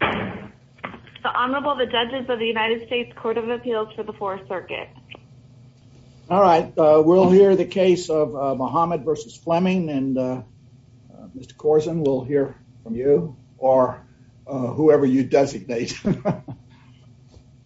the Honorable the judges of the United States Court of Appeals for the Fourth Circuit. All right, we'll hear the case of Muhammad versus Fleming and uh Mr Corson will hear from you or whoever you designate.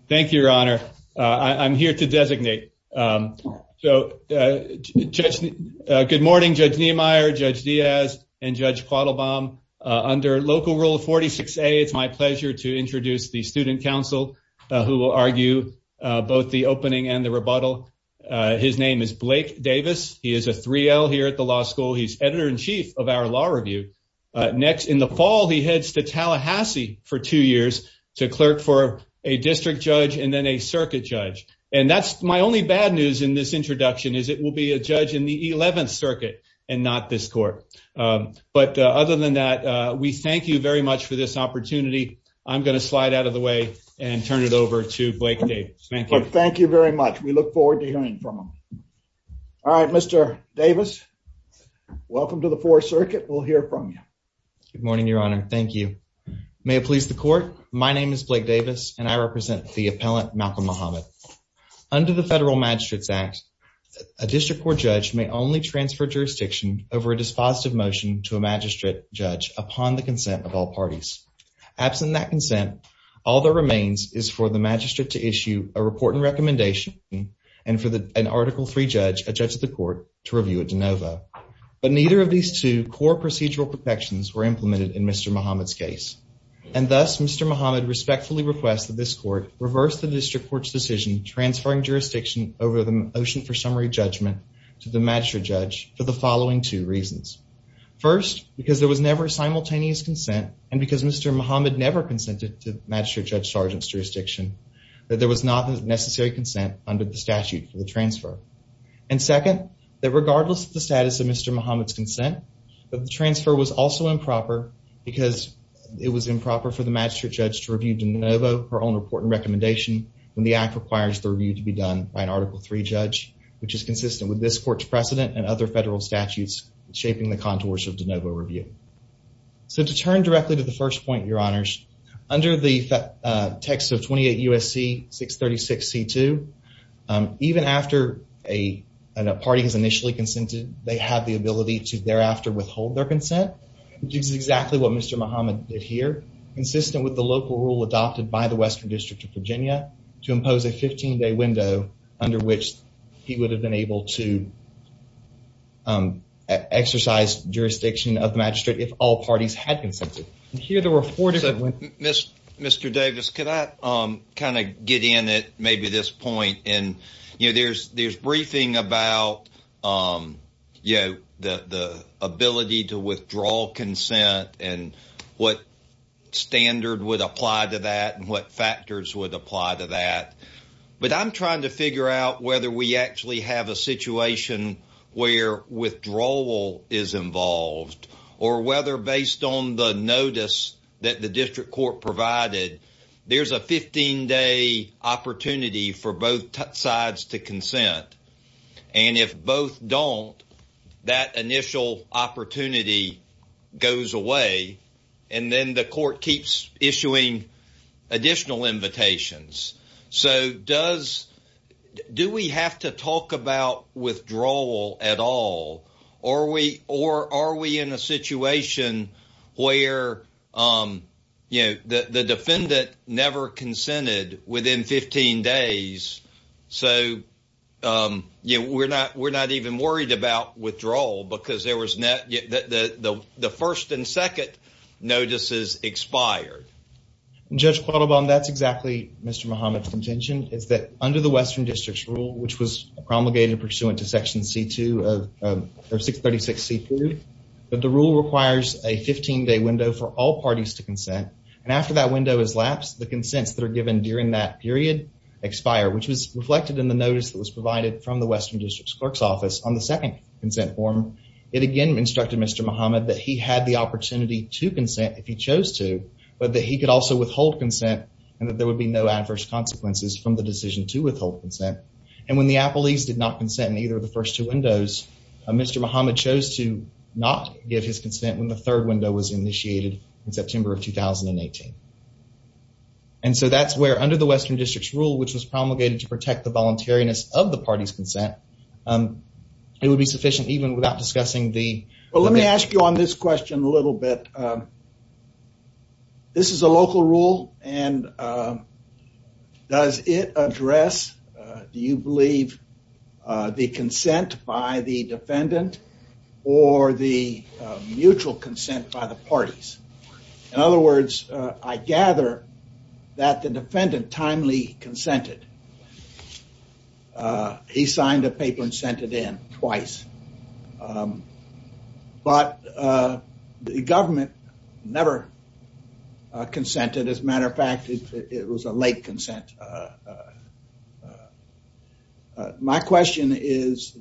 Thank you, Your Honor. I'm here to designate. Um, so, uh, just good morning, Judge Niemeyer, Judge Diaz and Judge Quattle bomb under local rule of 46 a. It's my pleasure to introduce the student council who will argue both the opening and the rebuttal. His name is Blake Davis. He is a three l here at the law school. He's editor in chief of our law review. Next in the fall, he heads to Tallahassee for two years to clerk for a district judge and then a circuit judge. And that's my only bad news in this introduction is it will be a judge in the 11th circuit and not this court. But other than that, we thank you very much for this opportunity. I'm gonna slide out of the way and turn it over to Blake Davis. Thank you. Thank you very much. We look forward to hearing from him. All right, Mr Davis, welcome to the Fourth Circuit. We'll hear from you. Good morning, Your Honor. Thank you. May it please the court. My name is Blake Davis and I represent the appellant Malcolm Muhammad under the federal magistrates act. A district court judge may only transfer jurisdiction over a dispositive motion to a magistrate judge upon the consent of all parties. Absent that consent, all that remains is for the magistrate to issue a report and recommendation and for an article three judge, a judge of the court to review it de novo. But neither of these two core procedural protections were implemented in Mr Muhammad's case. And thus, Mr Muhammad respectfully requests that this court reverse the district court's decision transferring jurisdiction over the motion for summary judgment to the magistrate judge for the following two reasons. First, because there was never simultaneous consent and because Mr Muhammad never consented to Magistrate Judge Sergeant's jurisdiction that there was not necessary consent under the statute for the transfer. And second, that regardless of the status of Mr Muhammad's consent, but the transfer was also improper because it was improper for the magistrate judge to review de novo her own report and recommendation when the act requires the review to be done by an article three judge, which is consistent with this court's precedent and other federal statutes shaping the contours of de novo review. So to turn directly to the first point, your honors under the text of 28 U. S. C. 6 36 C two. Um, even after a party has initially consented, they have the ability to thereafter withhold their consent, which is exactly what Mr Muhammad did here, consistent with the local rule adopted by the Western District of Virginia to impose a 15 day window under which he would have been able to, um, exercise jurisdiction of the magistrate if all parties had consented here. There were four different Miss Mr Davis. Could I, um, kind of get in it? Maybe this point and you know, there's there's briefing about, um, you know, the ability to withdraw consent and what standard would apply to that and what factors would apply to that. But I'm trying to figure out whether we actually have a situation where withdrawal is involved or whether, based on the notice that the district court provided, there's a 15 day opportunity for both sides to consent. And if both don't, that initial opportunity goes away. And then the court keeps issuing additional invitations. So does do we have to talk about withdrawal at all? Or we or are we in a situation where, um, you know, the defendant never consented within 15 days? So, um, you know, we're not. We're not even worried about withdrawal because there was net that the first and second notices expired. Judge Quattle bomb. That's exactly Mr Muhammad's intention is that under the Western District's rule, which was promulgated pursuant to Section C two of 6 36 C food. But the rule requires a 15 day window for all parties to consent. And after that window is lapsed, the consents that are given during that period expire, which was reflected in the notice that was provided from the Western District's clerk's office on the second consent form. It again instructed Mr Muhammad that he had the opportunity to consent if he chose to, but that he could also withhold consent and that there would be no adverse consequences from the decision to withhold consent. And when the Apple East did not consent in either of the first two windows, Mr Muhammad chose to not give his consent when the third window was initiated in September of 2000 and 18. And so that's where, under the Western District's rule, which was promulgated to protect the voluntariness of the party's consent, um, it would be sufficient even without discussing the let me ask you on this question a little bit. Um, this is a local rule and, um, does it address, uh, do you believe, uh, the consent by the defendant or the, uh, mutual consent by the parties? In other words, uh, I gather that the defendant timely consented. Uh, he signed a paper and sent it in twice. Um, but, uh, the government never consented. As a matter of fact, it was a late consent. Uh, uh, my question is,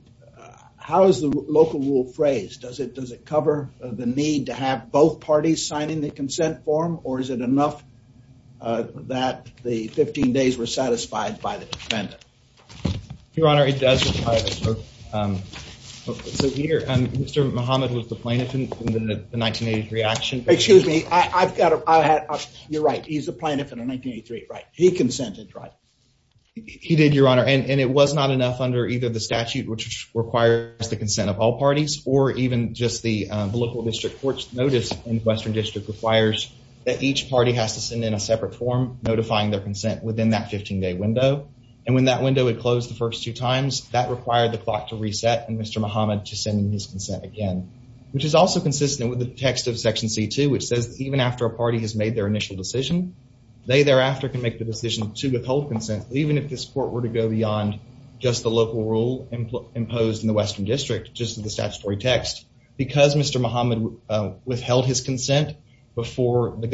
how is the local rule phrased? Does it, does it cover the need to have both parties signing the consent form or is it enough, uh, that the 15 days were satisfied by the defendant? Your honor, it does. Um, so here, um, Mr Mohammed was the plaintiff in the 1983 action. Excuse me. I've got it. You're right. He's a plaintiff in 1983, right? He consented, right? He did, your honor. And it was not enough under either the statute, which requires the consent of all parties or even just the local district courts. Notice in Western District requires that each party has to send in a separate form notifying their consent within that 15 day window. And when that window would close the first two times that required the clock to reset and Mr Mohammed to sending his consent again, which is also consistent with the text of Section C two, which says even after a party has made their initial decision, they thereafter can make the decision to withhold consent. Even if this court were to go beyond just the local rule imposed in the Western District, just the statutory text because Mr Mohammed withheld his consent before the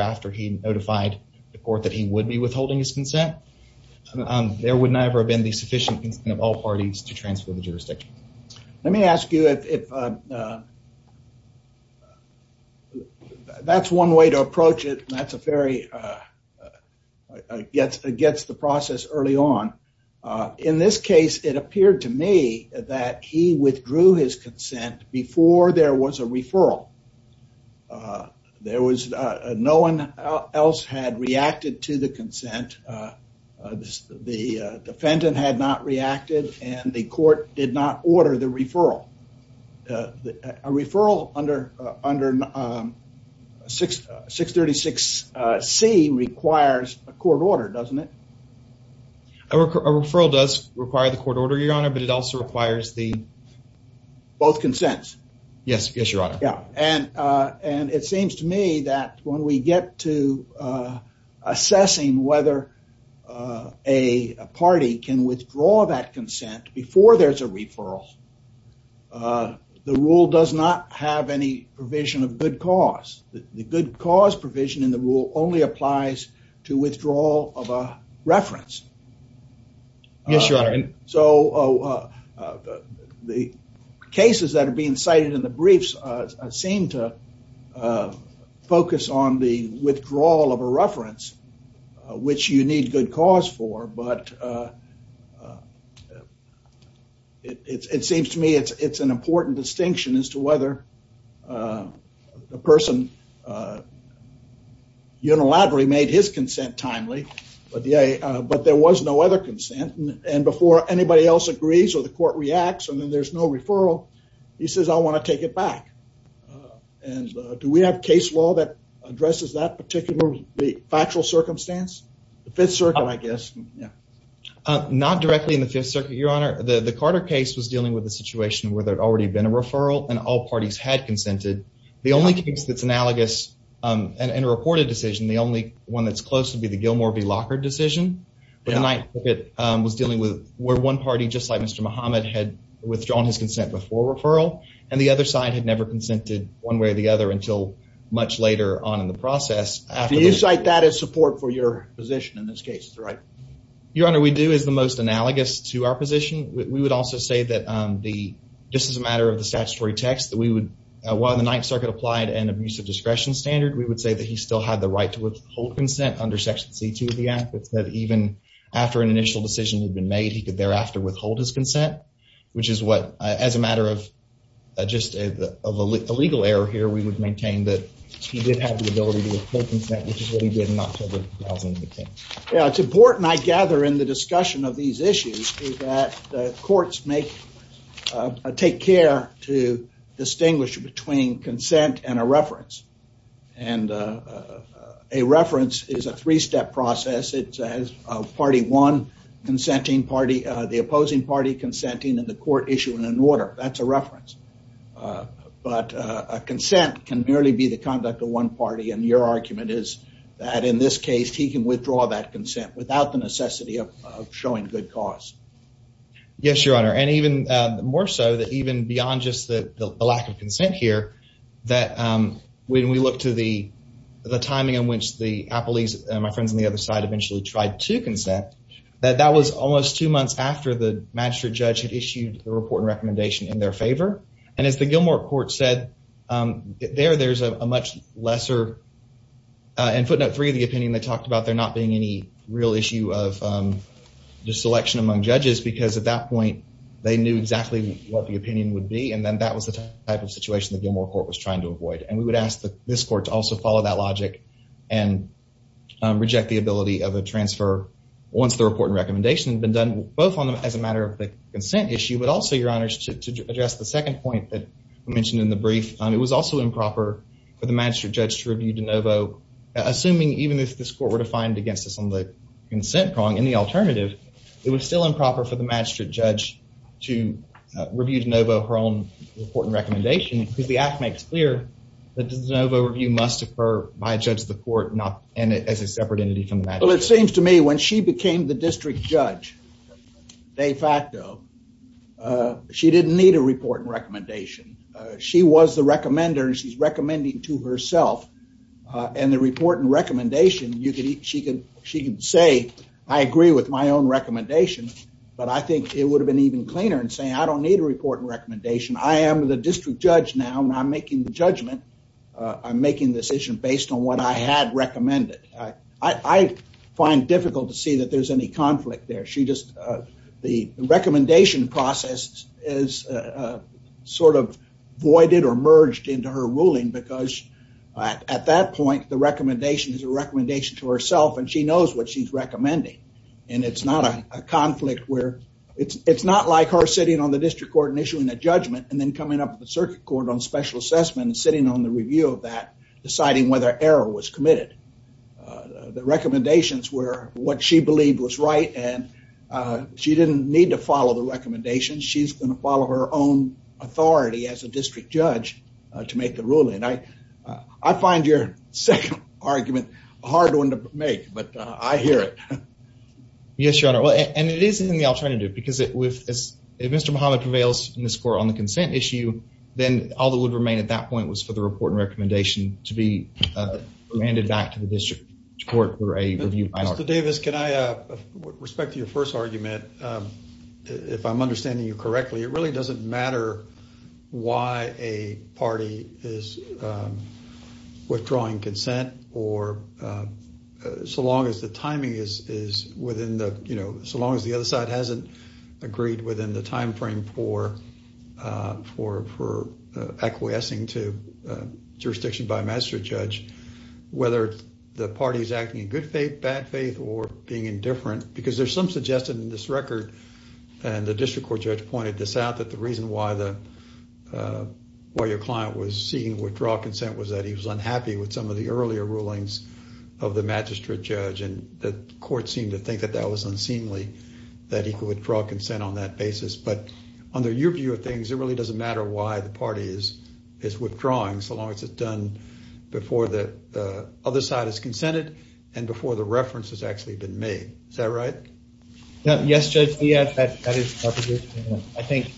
after he notified the court that he would be withholding his consent. Um, there would never have been the sufficient of all parties to transfer the jurisdiction. Let me ask you if, uh, that's one way to approach it. That's a very, uh, gets against the process early on. In this case, it appeared to me that he withdrew his consent before there was a referral. Uh, there was, uh, no one else had reacted to the consent. Uh, the defendant had not reacted, and the court did not order the referral. Uh, a referral under under, um, 636 C requires a court order, doesn't it? A referral does require the court order, Your Honor, but it also requires the both consents. Yes, Your Honor. And, uh, and it seems to me that when we get to, uh, assessing whether, uh, a party can withdraw that consent before there's a referral, uh, the rule does not have any provision of good cause. The good cause provision in the rule only applies to withdrawal of a the cases that are being cited in the briefs, uh, seem to, uh, focus on the withdrawal of a reference, uh, which you need good cause for. But, uh, it seems to me it's an important distinction as to whether, uh, the person, uh, unilaterally made his consent timely, but there was no other acts and then there's no referral. He says, I want to take it back. Uh, and, uh, do we have case law that addresses that particular factual circumstance? The Fifth Circuit, I guess. Yeah. Uh, not directly in the Fifth Circuit, Your Honor. The Carter case was dealing with a situation where there had already been a referral and all parties had consented. The only case that's analogous, um, and a reported decision, the only one that's close to be the Gilmore v. Lockard decision, but it was dealing with where one party, just like Mr Mohammed, had withdrawn his consent before referral and the other side had never consented one way or the other until much later on in the process. Do you cite that as support for your position in this case? It's right. Your Honor, we do is the most analogous to our position. We would also say that, um, the this is a matter of the statutory text that we would, uh, while the Ninth Circuit applied an abusive discretion standard, we would say that he still had the right to withhold consent under Section C to the act that even after an initial decision had been made, he could thereafter withhold his consent, which is what, uh, as a matter of, uh, just a, of a legal error here, we would maintain that he did have the ability to withhold consent, which is what he did not until the housing became. Yeah, it's important, I gather, in the discussion of these issues is that, uh, courts make, uh, take care to distinguish between consent and a reference. And, uh, uh, a reference is a three-step process. It says, uh, one consenting party, uh, the opposing party consenting and the court issue in an order. That's a reference. Uh, but, uh, consent can merely be the conduct of one party. And your argument is that in this case, he can withdraw that consent without the necessity of showing good cause. Yes, Your Honor. And even more so that even beyond just the lack of consent here that when we look to the timing in which the Apple, he's my friends on the other side eventually tried to consent that that was almost two months after the magistrate judge had issued the report and recommendation in their favor. And as the Gilmore court said, um, there, there's a much lesser, uh, and footnote three of the opinion they talked about there not being any real issue of, um, just selection among judges, because at that point they knew exactly what the opinion would be. And then that was the type of situation that Gilmore court was trying to avoid. And we would ask the, this court to also follow that of a transfer once the report and recommendation had been done both on them as a matter of the consent issue, but also your honors to address the second point that mentioned in the brief. It was also improper for the magistrate judge to review DeNovo, assuming even if this court were defined against us on the consent prong in the alternative, it was still improper for the magistrate judge to review DeNovo her own important recommendation because the act makes clear that DeNovo review must occur by a separate entity from the magistrate judge. Well, it seems to me when she became the district judge de facto, uh, she didn't need a report and recommendation. Uh, she was the recommender and she's recommending to herself, uh, and the report and recommendation you could, she could, she could say, I agree with my own recommendation, but I think it would have been even cleaner and saying, I don't need a report and recommendation. I am the district judge now and I'm making the judgment. Uh, I'm making decision based on what I had recommended. I, I find difficult to see that there's any conflict there. She just, uh, the recommendation process is, uh, sort of voided or merged into her ruling because at that point the recommendation is a recommendation to herself and she knows what she's recommending and it's not a conflict where it's, it's not like her sitting on the district court and issuing a judgment and then coming up with a circuit court on special assessment and sitting on the review of that, deciding whether error was committed. Uh, the recommendations were what she believed was right and, uh, she didn't need to follow the recommendations. She's going to follow her own authority as a district judge, uh, to make the ruling. I, uh, I find your second argument a hard one to make, but, uh, I hear it. Yes, your honor. Well, and it is in the alternative because it with, as if Mr. Muhammad prevails in this court on the consent issue, then all that would remain at that point was for the report and recommendation to be, uh, landed back to the district court for a review. Mr. Davis, can I, uh, with respect to your first argument, um, if I'm understanding you correctly, it really doesn't matter why a party is, um, withdrawing consent or, uh, so long as the timing is, is within the, you know, so long as the other side hasn't agreed within the timeframe for, uh, for, for, uh, acquiescing to, uh, jurisdiction by a magistrate judge, whether the party's acting in good faith, bad faith or being indifferent, because there's some suggested in this record and the district court judge pointed this out, that the reason why the, uh, why your client was seeing withdraw consent was that he was unhappy with some of the earlier rulings of the magistrate judge. And the court seemed to think that that was unseemly, that he could withdraw consent on that basis, but under your view of things, it really doesn't matter why the party is, is withdrawing so long as it's done before the, uh, other side has consented and before the reference has actually been made. Is that right? No, yes, judge. Yeah, that, that is, I think,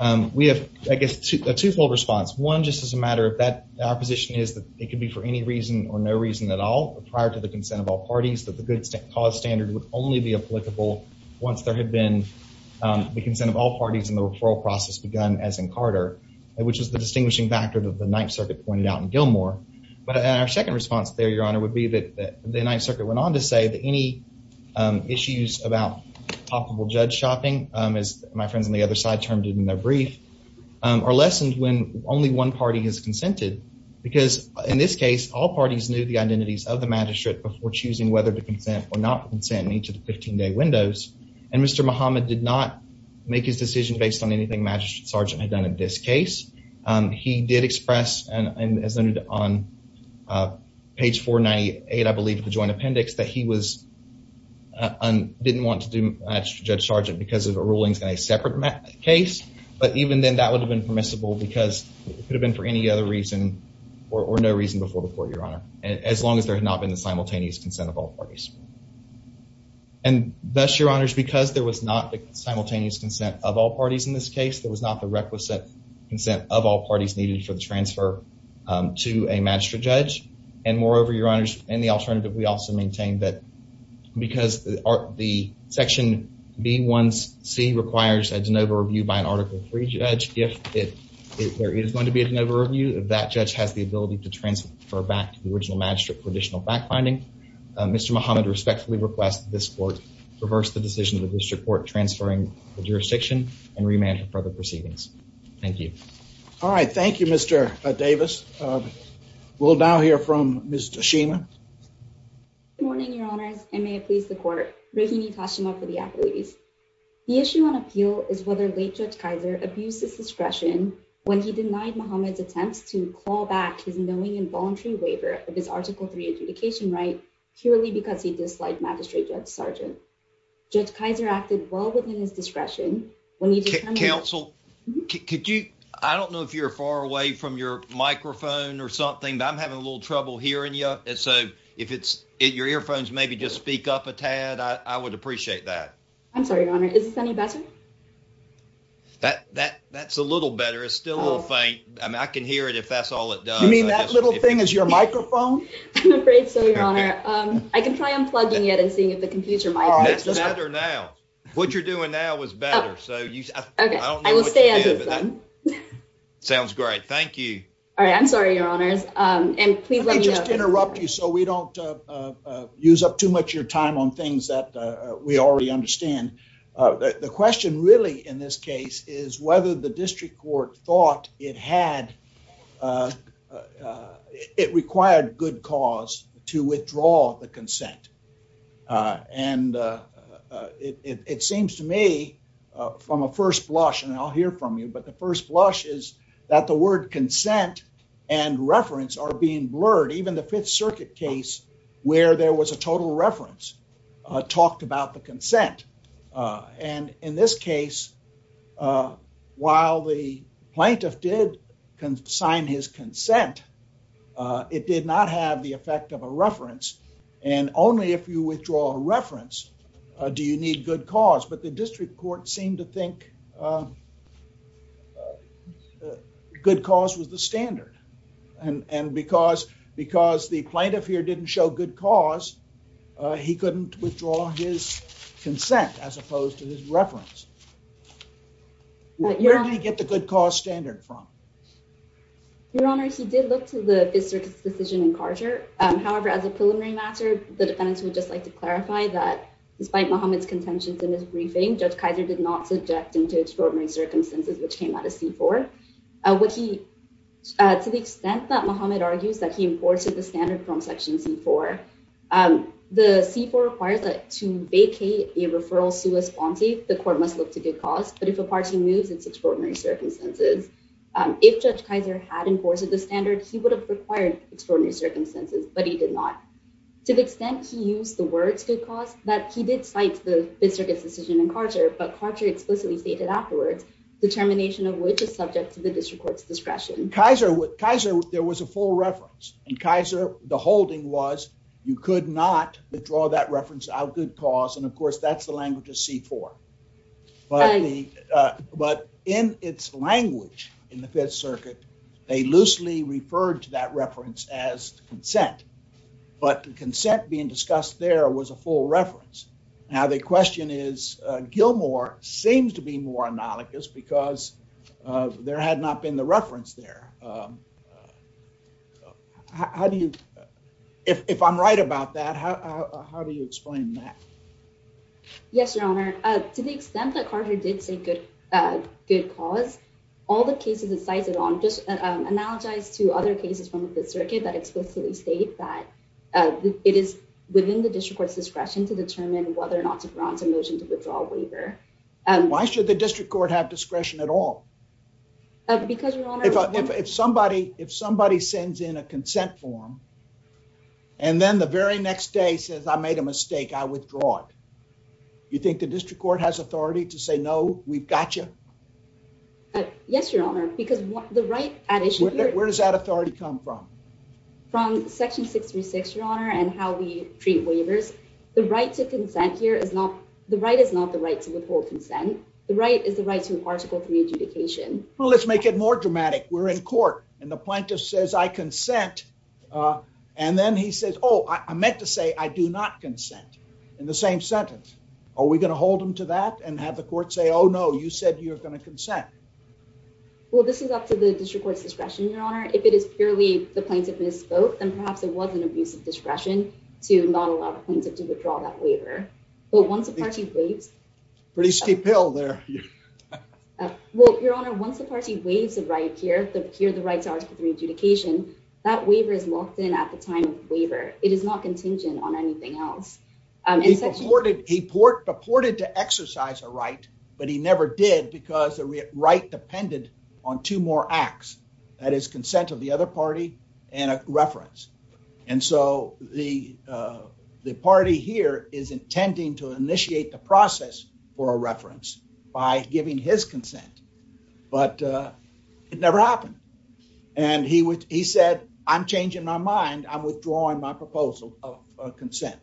um, we have, I guess, a twofold response. One, just as a matter of that, our position is that it could be for any reason or no reason at all prior to the consent of all parties, that the cause standard would only be applicable once there had been, um, the consent of all parties in the referral process begun as in Carter, which is the distinguishing factor that the Ninth Circuit pointed out in Gilmore. But our second response there, your honor, would be that the Ninth Circuit went on to say that any, um, issues about profitable judge shopping, um, as my friends on the other side termed it in their brief, um, are lessened when only one party has consented because in this case, all parties knew the identities of the magistrate before choosing whether to consent or not consent in each of the 15 day windows. And Mr. Muhammad did not make his decision based on anything magistrate sergeant had done in this case. Um, he did express and as noted on, uh, page 498, I believe the joint appendix that he was, uh, on, didn't want to do magistrate judge sergeant because of rulings in a separate case. But even then that would have been permissible because it could have been for any other reason or no reason before the court, your honor, as long as there had not been the simultaneous consent of all parties. And thus, your honors, because there was not the simultaneous consent of all parties in this case, there was not the requisite consent of all parties needed for the transfer, um, to a magistrate judge. And moreover, your honors, and the alternative, we also maintained that because the section B1C requires a de novo review by an article three judge. If it, if there is going to be a de novo review, if that judge has the ability to transfer back to the original magistrate for additional backfinding, uh, Mr. Muhammad respectfully request this court reverse the decision of the district court, transferring the jurisdiction and remand for further proceedings. Thank you. All right. Thank you, Mr. Uh, Davis. Um, we'll now hear from Ms. Tashima. Good morning, your honors. And may it please the court. Rehini Tashima for the appellees. The issue on appeal is whether late judge Kaiser abused his discretion when he involuntary waiver of his article three adjudication, right? Purely because he disliked magistrate judge Sergeant judge Kaiser acted well within his discretion. When you get counsel, could you, I don't know if you're far away from your microphone or something, but I'm having a little trouble hearing you. And so if it's your earphones, maybe just speak up a tad. I would appreciate that. I'm sorry, your honor. Is this any better? That, that, that's a little better. It's still a little faint. I mean, I can hear it if that's all it does. Little thing is your microphone. I'm afraid so. Your honor. Um, I can try unplugging it and seeing if the computer might be better now, what you're doing now was better. So you, I don't know. Sounds great. Thank you. All right. I'm sorry, your honors. Um, and please let me just interrupt you. So we don't, uh, uh, use up too much of your time on things that, uh, we already understand. Uh, the question really in this case is whether the district court thought it had, uh, uh, it required good cause to withdraw the consent. Uh, and, uh, uh, it, it, it seems to me, uh, from a first blush and I'll hear from you, but the first blush is that the word consent and reference are being blurred. Even the fifth circuit case where there was a total reference, uh, talked about the consent. Uh, and in this case, uh, while the plaintiff did can sign his consent, uh, it did not have the effect of a reference. And only if you withdraw a reference, uh, do you need good cause, but the district court seemed to think, uh, uh, good cause was the standard. And, and because, because the plaintiff here didn't show good cause, uh, he couldn't withdraw his consent as opposed to his reference. Where did he get the good cause standard from? Your Honor, he did look to the fifth circuit's decision in Carter. Um, however, as a preliminary matter, the defendants would just like to clarify that despite Muhammad's contentions in his briefing, judge Kaiser did not subject him to extraordinary circumstances, which came out of C4. Uh, what he, uh, to the extent that Muhammad argues that he imported the standard from section C4, um, the C4 requires that to vacate a referral sous-responsive, the court must look to good cause. But if a party moves, it's extraordinary circumstances. Um, if judge Kaiser had imported the standard, he would have required extraordinary circumstances, but he did not to the extent he used the words good cause that he did cite the district's decision in Carter, but Carter explicitly stated afterwards determination of which is subject to the district court's discretion. Kaiser, Kaiser, there was a full reference and Kaiser, the holding was you could not withdraw that reference out good cause. And of course, that's the language of C4, but the, uh, but in its language in the fifth circuit, they loosely referred to that reference as consent, but the consent being discussed there was a full reference. Now the question is, uh, Gilmore seems to be more analogous because, uh, there had not been the reference there. Um, how do you, if I'm right about that, how, how do you explain that? Yes, your honor. Uh, to the extent that Carter did say good, uh, good cause all the cases that cited on just, um, analogize to other cases from the circuit that explicitly state that, uh, it is within the district court's discretion to determine whether or not to bronze a motion to withdraw waiver. Um, why should the district court have discretion at all? Because if somebody, if somebody sends in a consent form and then the very next day says I made a mistake, I withdraw it. You think the district court has authority to say, no, we've got you? Uh, yes, your honor. Because the right, where does that authority come from? From section 636, your honor, and how we treat waivers. The right to consent here is not the right is not the right to withhold consent. The right is the right to an article three adjudication. Well, let's make it more dramatic. We're in court and the plaintiff says, I consent. Uh, and then he says, oh, I meant to say, I do not consent in the same sentence. Are we going to hold them to that and have the court say, oh no, you said you're going to consent. Well, this is up to the district court's discretion, your honor. If it is purely the plaintiff misspoke, then perhaps it wasn't abusive discretion to not allow the plaintiff to withdraw that waiver. But once the party waves pretty steep hill there. Uh, well, your honor, once the party waves the right here, the, here, the right to article three adjudication, that waiver is locked in at the time of waiver. It is not contingent on anything else. Um, he purported, he purported to exercise a right, but he never did because the right depended on two more acts that is consent of the other party and a reference. And so the, uh, the party here is intending to initiate the process for a by giving his consent, but, uh, it never happened. And he would, he said, I'm changing my mind. I'm withdrawing my proposal of consent.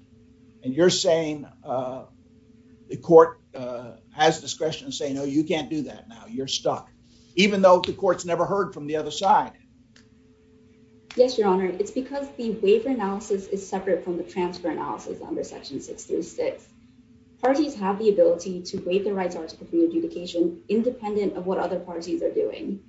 And you're saying, uh, the court, uh, has discretion to say, no, you can't do that now you're stuck. Even though the court's never heard from the other side. Yes, your honor. It's because the waiver analysis is separate from the transfer analysis under section six through six. Parties have the ability to waive the rights article three adjudication independent of what other parties are doing.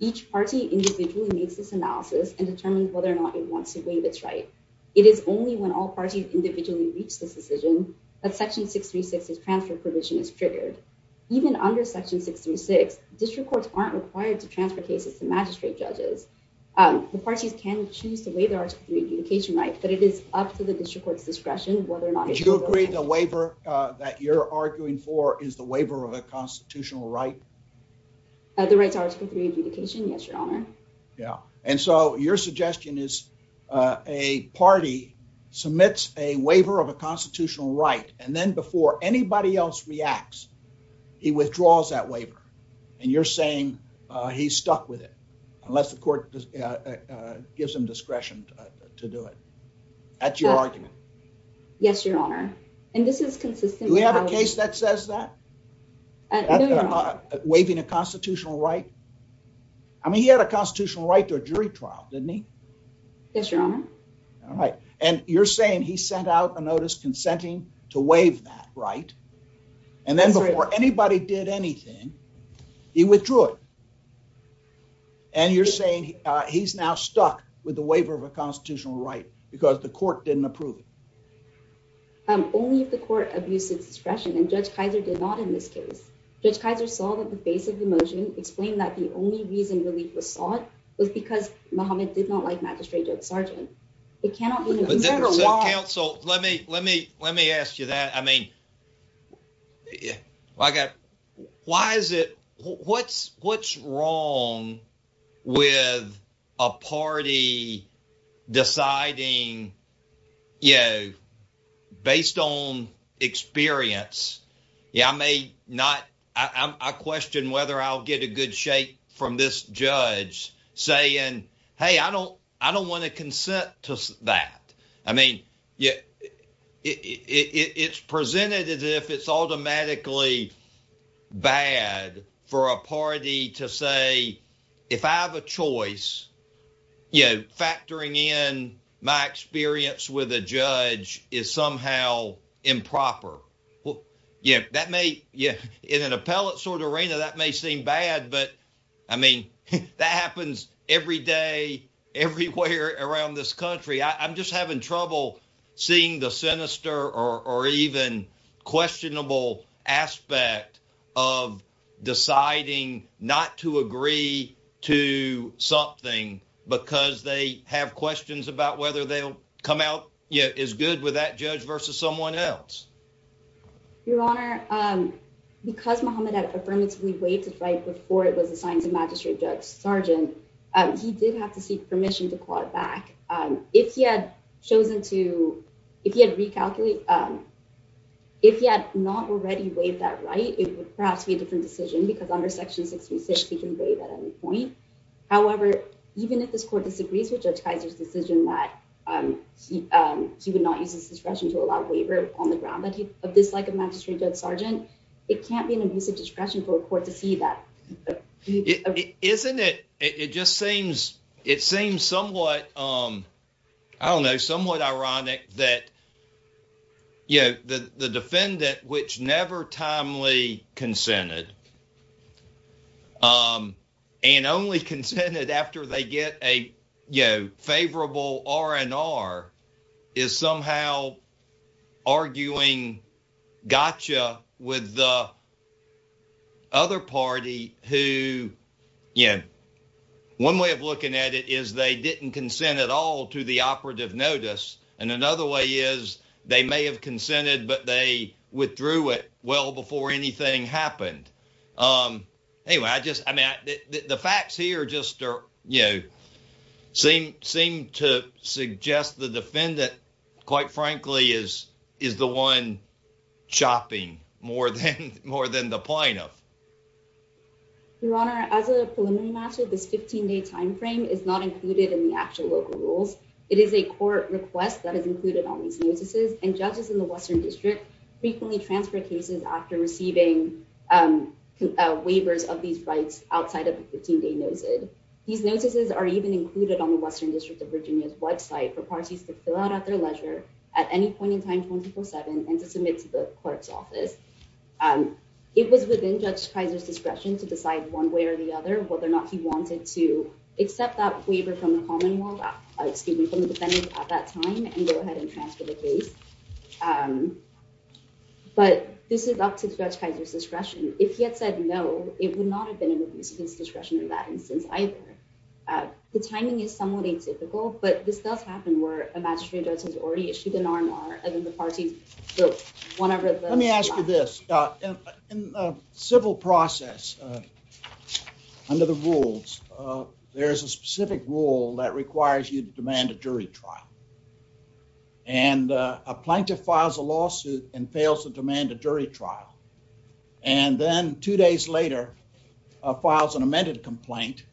Each party individually makes this analysis and determines whether or not it wants to waive its right. It is only when all parties individually reach this decision that section six, three, six is transfer provision is triggered. Even under section six, three, six district courts aren't required to transfer cases to magistrate judges. Um, the parties can choose to waive their article three adjudication rights, but it is up to the district court's discretion, whether or not you agree the waiver, uh, that you're arguing for is the waiver of a constitutional right. Uh, the rights article three adjudication. Yes, your honor. Yeah. And so your suggestion is, uh, a party submits a waiver of a constitutional right, and then before anybody else reacts, he withdraws that waiver. And you're saying, uh, he's stuck with it unless the court, uh, uh, gives him discretion to do it. That's your argument. Yes, your honor. And this is consistent. We have a case that says that waving a constitutional right. I mean, he had a constitutional right to a jury trial, didn't he? Yes, your honor. All right. And you're saying he sent out a notice consenting to waive that right. And then before anybody did anything, he withdrew it. And you're saying he's now stuck with the waiver of a constitutional right because the court didn't approve it. Um, only if the court abuses discretion and judge Kaiser did not in this case, judge Kaiser saw that the face of the motion explained that the only reason relief was sought was because Mohammed did not like magistrate judge sergeant. It cannot be. Let me, let me, let me ask you that. I mean, yeah, I got, why is it, what's, what's wrong with a party deciding, you know, based on experience. Yeah. I may not, I question whether I'll get a good shake from this judge saying, Hey, I don't, I don't want to consent to that. I mean, yeah, it's presented as if it's automatically bad for a party to say, if I have a choice, you know, factoring in my experience with a judge is somehow improper. Well, yeah, that may, yeah. In an appellate sort of arena that may seem bad, but I mean, that happens every day, everywhere around this country. I I'm just having trouble seeing the sinister or, or even questionable aspect of deciding not to agree to something because they have questions about whether they'll come out yet is good with that judge versus someone else. Your honor. Um, because Mohammed had affirmatively waited right before it was assigned to magistrate judge sergeant, um, he did have to seek permission to call it back. Um, if he had chosen to, if he had recalculate, um, if he had not already waived that right, it would perhaps be a different decision because under section six, three, six, he can waive at any point. However, even if this court disagrees with judge Kaiser's decision that, um, he, um, he would not use his discretion to allow waiver on the ground, but he, of this, like a magistrate judge sergeant, it can't be an abusive discretion for a court to see that. Isn't it? It just seems, it seems somewhat, um, I don't know, somewhat ironic that, you know, the, the defendant, which never timely consented, um, and only consented after they get a, you know, favorable R and R is somehow arguing gotcha with the other party who, you know, one way of looking at it is they didn't consent at all to the operative notice. And another way is they may have consented, but they withdrew it well before anything happened. Um, anyway, I just, I mean, the facts here just are, you know, seem, seem to suggest the defendant quite frankly, is, is the one shopping more than, more than the plaintiff. Your honor, as a preliminary matter, this 15 day timeframe is not included in the actual local rules. It is a court request that is included on these notices and judges in the Western district frequently transfer cases after receiving, um, uh, waivers of these rights outside of the 15 day. These notices are even included on the Western district of Virginia's website for parties to fill out at their leisure at any point in time, 24 seven, and to submit to the clerk's office. Um, it was within judge Kaiser's discretion to decide one way or the other, whether or not he wanted to accept that waiver from the common world, excuse me, from the defendant at that time and go ahead and transfer the Um, but this is up to judge Kaiser's discretion. If he had said no, it would not have been able to use his discretion in that instance either. Uh, the timing is somewhat atypical, but this does happen where a magistrate judge has already issued an RMR and then the parties go whenever. Let me ask you this, uh, in a civil process, uh, under the rules, uh, there is a specific rule that requires you to demand a jury trial and a plaintiff files a lawsuit and fails to demand a jury trial. And then two days later, uh, files an amended complaint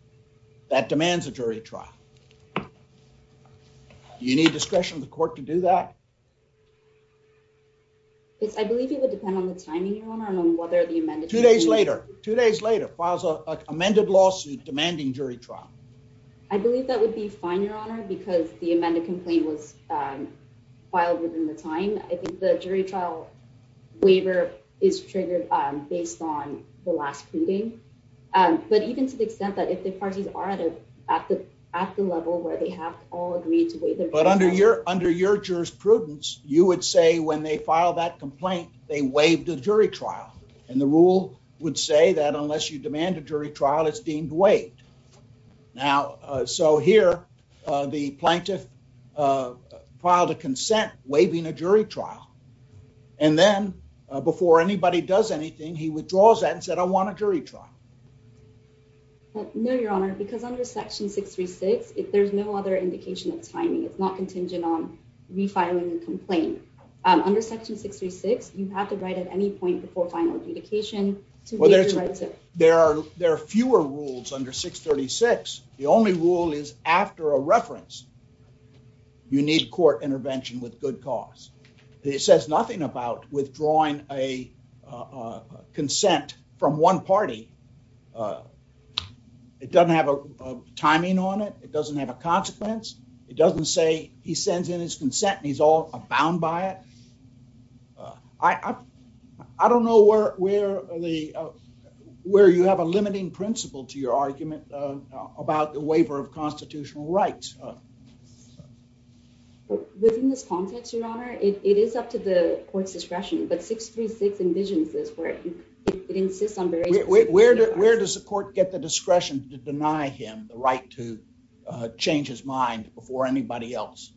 that demands a jury trial. You need discretion of the court to do that. Yes. I believe it would depend on the timing, your honor, among whether the amended two days later, two days later, files a amended lawsuit demanding jury trial. I believe that would be fine. Your honor, because the amended complaint was, um, filed within the I think the jury trial waiver is triggered, um, based on the last meeting. Um, but even to the extent that if the parties are at it at the, at the level where they have all agreed to wait, but under your, under your jurisprudence, you would say when they filed that complaint, they waived the jury trial and the rule would say that unless you demand a jury trial, it's deemed wait now. So here, uh, the plaintiff, uh, filed a consent, waiving a jury trial, and then, uh, before anybody does anything, he withdraws that and said, I want a jury trial. No, your honor, because under section six, three, six, if there's no other indication of timing, it's not contingent on refiling and complain. Um, under section six, three, six, you have to write at any point before final adjudication. There are, there are fewer rules under six 36. The only rule is after a reference, you need court intervention with good cause. It says nothing about withdrawing a, uh, uh, consent from one party. Uh, it doesn't have a timing on it. It doesn't have a consequence. It doesn't say he sends in his consent and he's all abound by it. Uh, I, I, I don't know where, where the, uh, where you have a limiting principle to your argument about the waiver of constitutional rights. Within this context, your honor, it is up to the court's discretion, but 636 envisions this where it insists on where, where, where does the court get the discretion to deny him the right to, uh, change his mind before anybody else?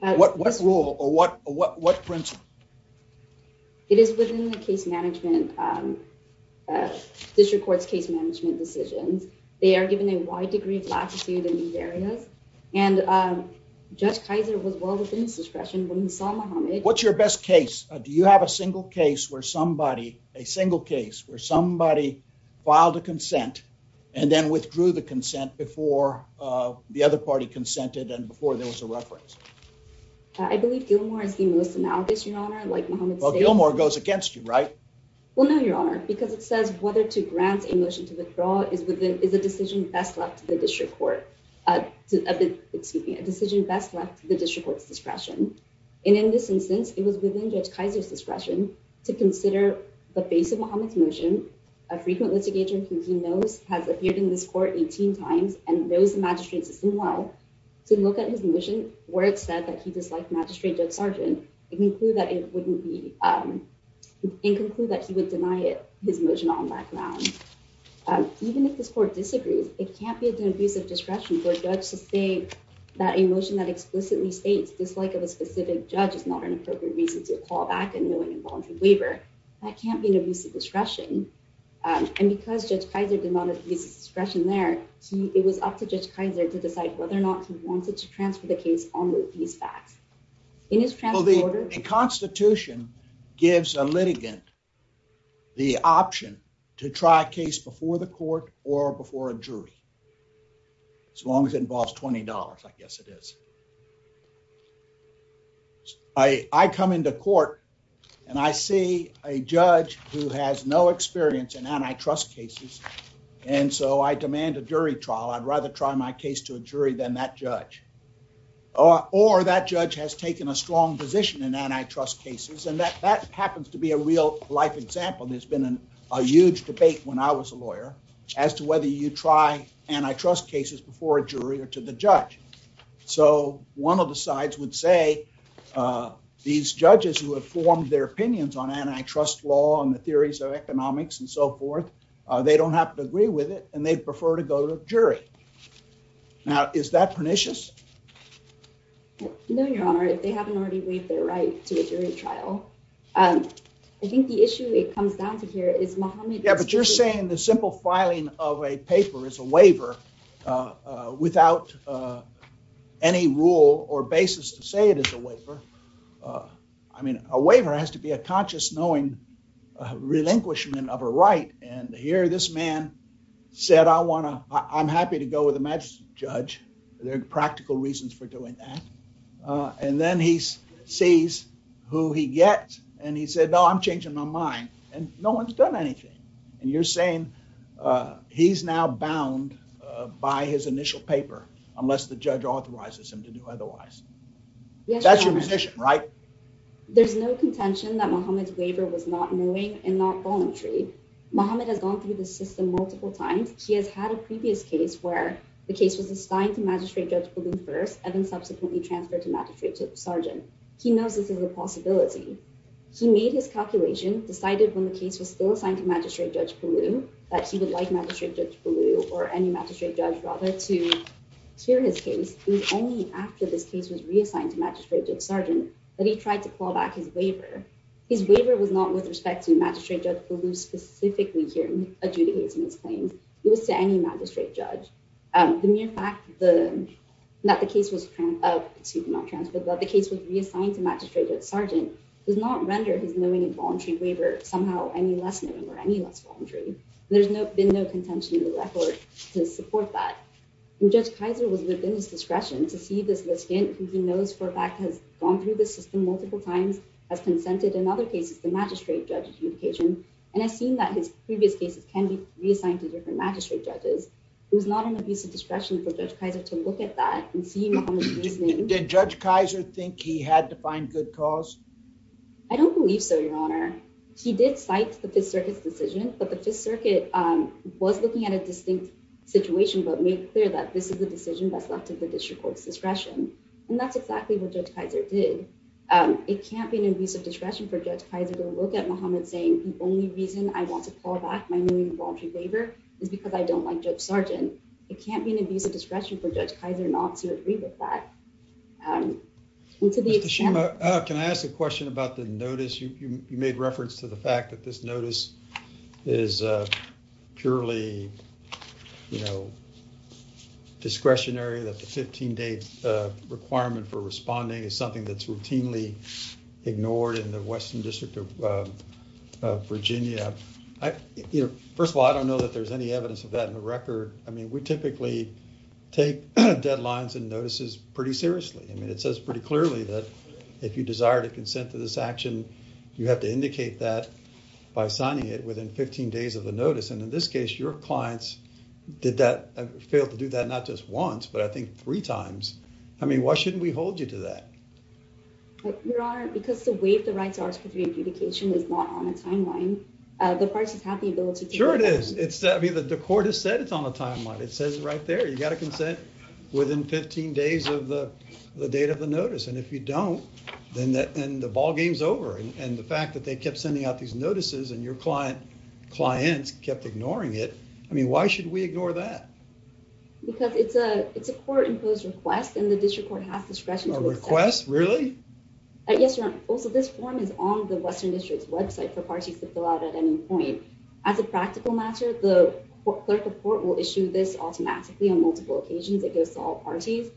What, what rule or what, what, what principle? It is within the case management, um, uh, district court's case management decisions. They are given a wide degree of latitude in these areas. And, um, judge Kaiser was well within his discretion when he saw Mohammed. What's your best case? Do you have a single case where somebody, a single case where somebody filed a consent and then withdrew the consent before, uh, the other party consented and before there was a reference? I believe Gilmore is the most analogous. Your honor, like Mohammed Gilmore goes against you, right? Well, no, your honor, because it says whether to grant a motion to withdraw is within, is a decision best left to the district court, uh, excuse me, a decision best left the district court's discretion. And in this instance, it was within judge Kaiser's discretion to consider the base of Mohammed's motion. A frequent litigator who he knows has appeared in this court 18 times and there was a magistrate system. Well, to look at his mission where it said that he disliked magistrate judge sergeant and conclude that it wouldn't be, um, and conclude that he would deny it, his motion on background. Um, even if this court disagrees, it can't be an abusive discretion for a judge to say that emotion that explicitly states dislike of a specific judge is not an appropriate reason to call back and knowing involuntary waiver, that can't be an abusive discretion. Um, and because judge Kaiser did not abuse discretion there, he, it was up to judge Kaiser to decide whether or not he wanted to transfer the case on with these facts in his transporter. A constitution gives a litigant the option to try a case before the court or before a jury, as long as it involves $20. I guess it is. I come into court and I see a judge who has no experience in antitrust cases. And so I demand a jury trial. I'd rather try my case to a jury than that judge or, or that judge has taken a strong position in antitrust cases. And that, that happens to be a real life example. There's been a huge debate when I was a lawyer as to whether you try antitrust cases before a jury or to the judge. So one of the sides would say, uh, these judges who have formed their opinions on antitrust law and the theories of economics and so forth, uh, they don't have to agree with it and they'd prefer to go to a jury. Now, is that pernicious? No, Your Honor, they haven't already waived their right to a jury trial. Um, I think the issue that comes down to here is Mohammed. Yeah, but you're saying the simple filing of a paper is a waiver, uh, uh, without, uh, any rule or basis to say it is a waiver. Uh, I mean, a waiver has to be a conscious knowing, uh, relinquishment of a right. And here, this man said, I want to, I'm happy to go with the magistrate judge. There are practical reasons for doing that. Uh, and then he sees who he gets and he said, no, I'm changing my mind and no one's done anything. And you're saying, uh, he's now bound, uh, by his initial paper, unless the judge authorizes him to do otherwise. That's your position, right? There's no contention that Mohammed's waiver was not knowing and not voluntary. Mohammed has gone through the system multiple times. He has had a previous case where the case was assigned to magistrate judge Palou first, and then subsequently transferred to magistrate judge Sargent. He knows this is a possibility. He made his calculation, decided when the case was still assigned to magistrate judge Palou that he would like magistrate judge Palou or any magistrate judge rather to hear his case, it was only after this case was reassigned to magistrate judge Sargent that he tried to pull back his waiver. His waiver was not with respect to magistrate judge Palou specifically hearing adjudicates in his claims. It was to any magistrate judge. Um, the mere fact that the case was, uh, excuse me, not transferred, but the case was reassigned to magistrate judge Sargent does not render his knowing and voluntary waiver somehow any less knowing or any less voluntary. There's no been no contention in the record to support that judge Kaiser was within his discretion to see this list in who he knows for a fact has gone through the system multiple times, has consented in other cases, the magistrate judge adjudication, and I've seen that his previous cases can be reassigned to different magistrate judges. It was not an abuse of discretion for judge Kaiser to look at that and see did judge Kaiser think he had to find good cause? I don't believe so. Your honor, he did cite the fifth circuit's decision, but the fifth circuit, um, was looking at a distinct situation, but made clear that this is a decision that's left to the district court's discretion. And that's exactly what judge Kaiser did. Um, it can't be an abuse of discretion for judge Kaiser to look at Muhammad saying, the only reason I want to call back my new involuntary waiver is because I don't like judge Sargent. It can't be an abuse of discretion for judge Kaiser not to agree with that. Um, can I ask a question about the notice? You, you, you made reference to the fact that this notice is a purely, you know, requirement for responding is something that's routinely ignored in the Western district of, uh, uh, Virginia. I, you know, first of all, I don't know that there's any evidence of that in the record. I mean, we typically take deadlines and notices pretty seriously. I mean, it says pretty clearly that if you desire to consent to this action, you have to indicate that by signing it within 15 days of the notice. And in this case, your clients did that, failed to do that, not just once, but I mean, why shouldn't we hold you to that? Your Honor, because the way the rights are to the adjudication is not on the timeline. Uh, the parties have the ability to, sure it is. It's the court has said it's on the timeline. It says right there, you got to consent within 15 days of the, the date of the notice. And if you don't, then that, and the ball game's over. And the fact that they kept sending out these notices and your client clients kept ignoring it. I mean, why should we ignore that? Because it's a, it's a court imposed request and the district court has discretion to request. Really? Yes, Your Honor. Also, this form is on the Western district's website for parties to fill out at any point. As a practical matter, the clerk of court will issue this automatically on multiple occasions. It goes to all parties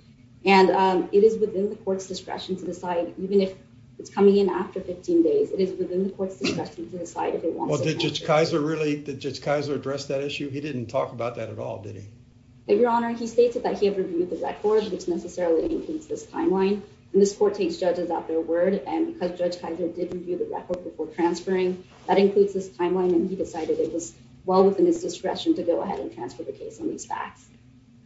and, um, it is within the court's discretion to decide even if it's coming in after 15 days, it is within the court's discretion to decide if it wants to. Did Judge Kaiser really, did Judge Kaiser address that issue? He didn't talk about that at all. Did he? Your Honor, he stated that he had reviewed the records, which necessarily includes this timeline. And this court takes judges out their word. And because Judge Kaiser did review the record before transferring, that includes this timeline. And he decided it was well within his discretion to go ahead and transfer the case on these facts.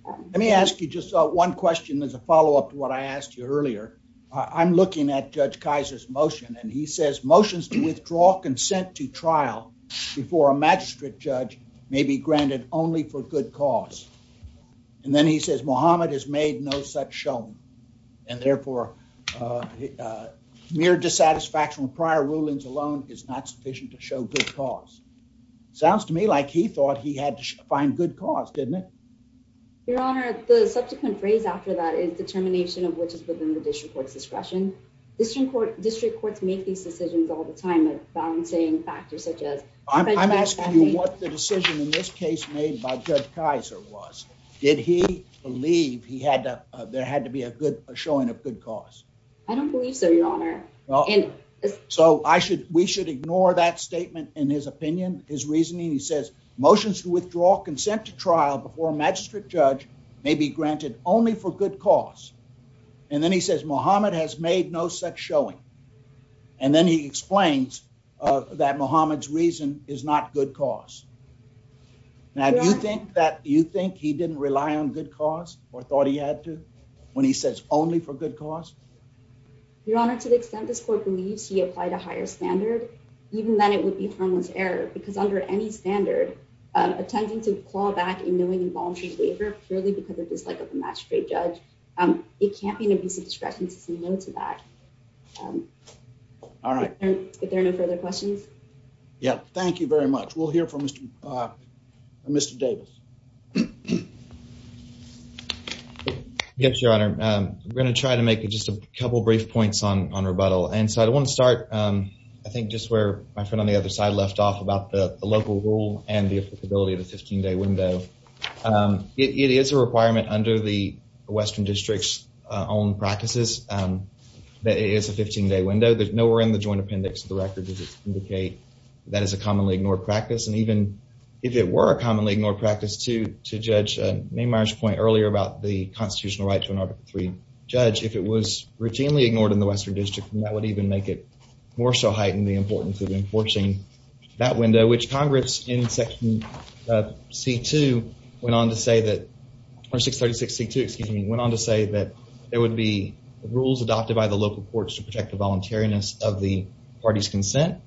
Let me ask you just one question as a follow-up to what I asked you earlier. I'm looking at Judge Kaiser's motion and he says motions to withdraw consent to trial before a magistrate judge may be granted only for good cause. And then he says Muhammad has made no such shown and therefore, uh, mere dissatisfaction with prior rulings alone is not sufficient to show good cause. Sounds to me like he thought he had to find good cause, didn't it? Your Honor, the subsequent phrase after that is determination of which is within the district court's discretion. District court, district courts make these decisions all the time at balancing factors such as I'm asking you what the decision in this case made by Judge Kaiser was, did he believe he had to, uh, there had to be a good, a showing of good cause. I don't believe so, Your Honor. So I should, we should ignore that statement in his opinion, his reasoning. He says motions to withdraw consent to trial before a magistrate judge may be granted only for good cause. And then he says, Muhammad has made no such showing. And then he explains, uh, that Muhammad's reason is not good cause. Now, do you think that you think he didn't rely on good cause or thought he had to when he says only for good cause, Your Honor, to the extent this court believes he applied a higher standard, even then it would be harmless error because under any standard, uh, attempting to claw back in knowing involuntary waiver purely because of dislike of the magistrate judge, um, it can't be an abuse of discretion to say no to that. Um, all right, if there are no further questions. Yeah, thank you very much. We'll hear from Mr, uh, Mr. Davis. Yes, Your Honor. Um, we're going to try to make it just a couple of brief points on, on rebuttal. And so I'd want to start, um, I think just where my friend on the other side left off about the local rule and the applicability of the 15 day window. Um, it is a requirement under the Western districts, uh, own practices, um, that it is a 15 day window. There's nowhere in the joint appendix of the record does it indicate that is a commonly ignored practice. And even if it were a commonly ignored practice to, to judge, uh, name Myers point earlier about the constitutional right to an Article three judge, if it was routinely ignored in the Western district, that would even make it more so heightened the importance of enforcing that window, which Congress in section, uh, C2 went on to say that or 636 C2, excuse me, went on to say that there would be rules adopted by the local courts to protect the voluntariness of the party's consent.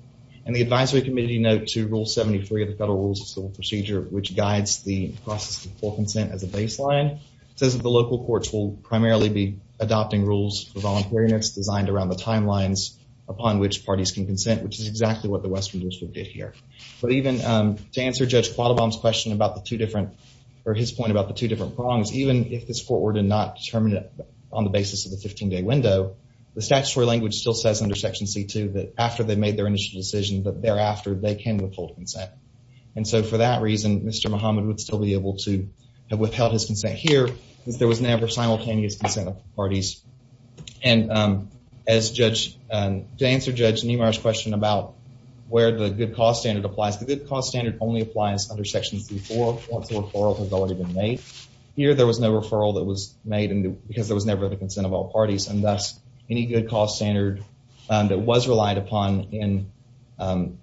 And the advisory committee note to rule 73 of the federal rules of civil procedure, which guides the process of full consent as a baseline says that the local courts will primarily be adopting rules for voluntariness designed around the timelines upon which parties can consent, which is exactly what the Western district did here. But even, um, to answer judge Quattlebaum's question about the two different or his point about the two different prongs, even if this court were to not determine it on the basis of the 15 day window, the statutory language still says under section C2 that after they made their initial decision, but thereafter they can withhold consent. And so for that reason, Mr. Muhammad would still be able to have withheld his consent here because there was never simultaneous consent of parties. And, um, as judge, um, to answer judge numerous question about where the good cost standard applies, the good cost standard only applies under sections before once the referral has already been made here, there was no referral that was made because there was never the consent of all parties. And that's any good cost standard that was relied upon in, um,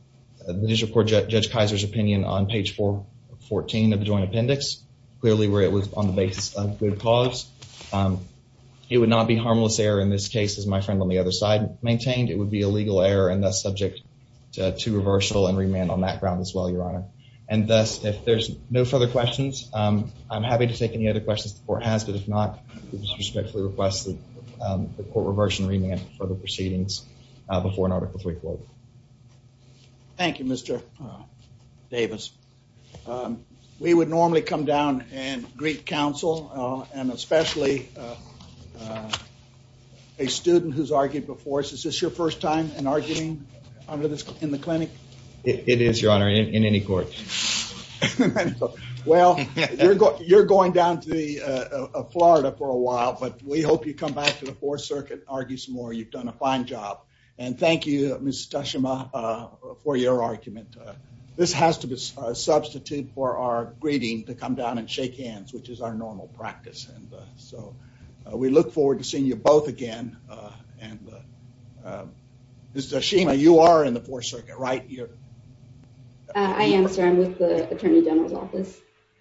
the district court judge Kaiser's opinion on page four 14 of the joint appendix, clearly where it was on the basis of good cause. Um, it would not be harmless error in this case, as my friend on the other side maintained, it would be a legal error and thus subject to reversal and remand on that ground as well, your honor. And thus, if there's no further questions, um, I'm happy to take any other questions the court has, but if not, we respectfully request the court reversion remand for the proceedings, uh, before an article three court. Thank you, Mr. Davis. Um, we would normally come down and greet counsel, uh, and especially, uh, uh, a student who's argued before us. Is this your first time in arguing under this, in the clinic? It is your honor in any court. Well, you're going, you're going down to the, uh, Florida for a while, but we hope you come back to the fourth circuit, argue some more, you've done a fine job. And thank you, Ms. Tashima, uh, for your argument. Uh, this has to be a substitute for our greeting to come down and shake hands, which is our normal practice. And, uh, so, uh, we look forward to seeing you both again. Uh, and, uh, uh, Ms. Tashima, you are in the fourth circuit, right? You're, uh, I am, sir. I'm with the attorney general's office.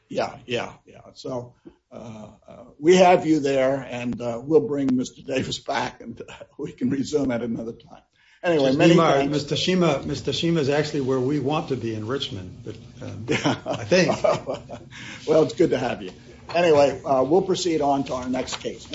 Yeah. Yeah. Yeah. So, uh, uh, we have you there and, uh, we'll bring Mr. Davis back and we can resume at another time. Anyway, Mr. Shima, Mr. Shima is actually where we want to be in Richmond, but, uh, I think, well, it's good to have you anyway. Uh, we'll proceed on to our next case.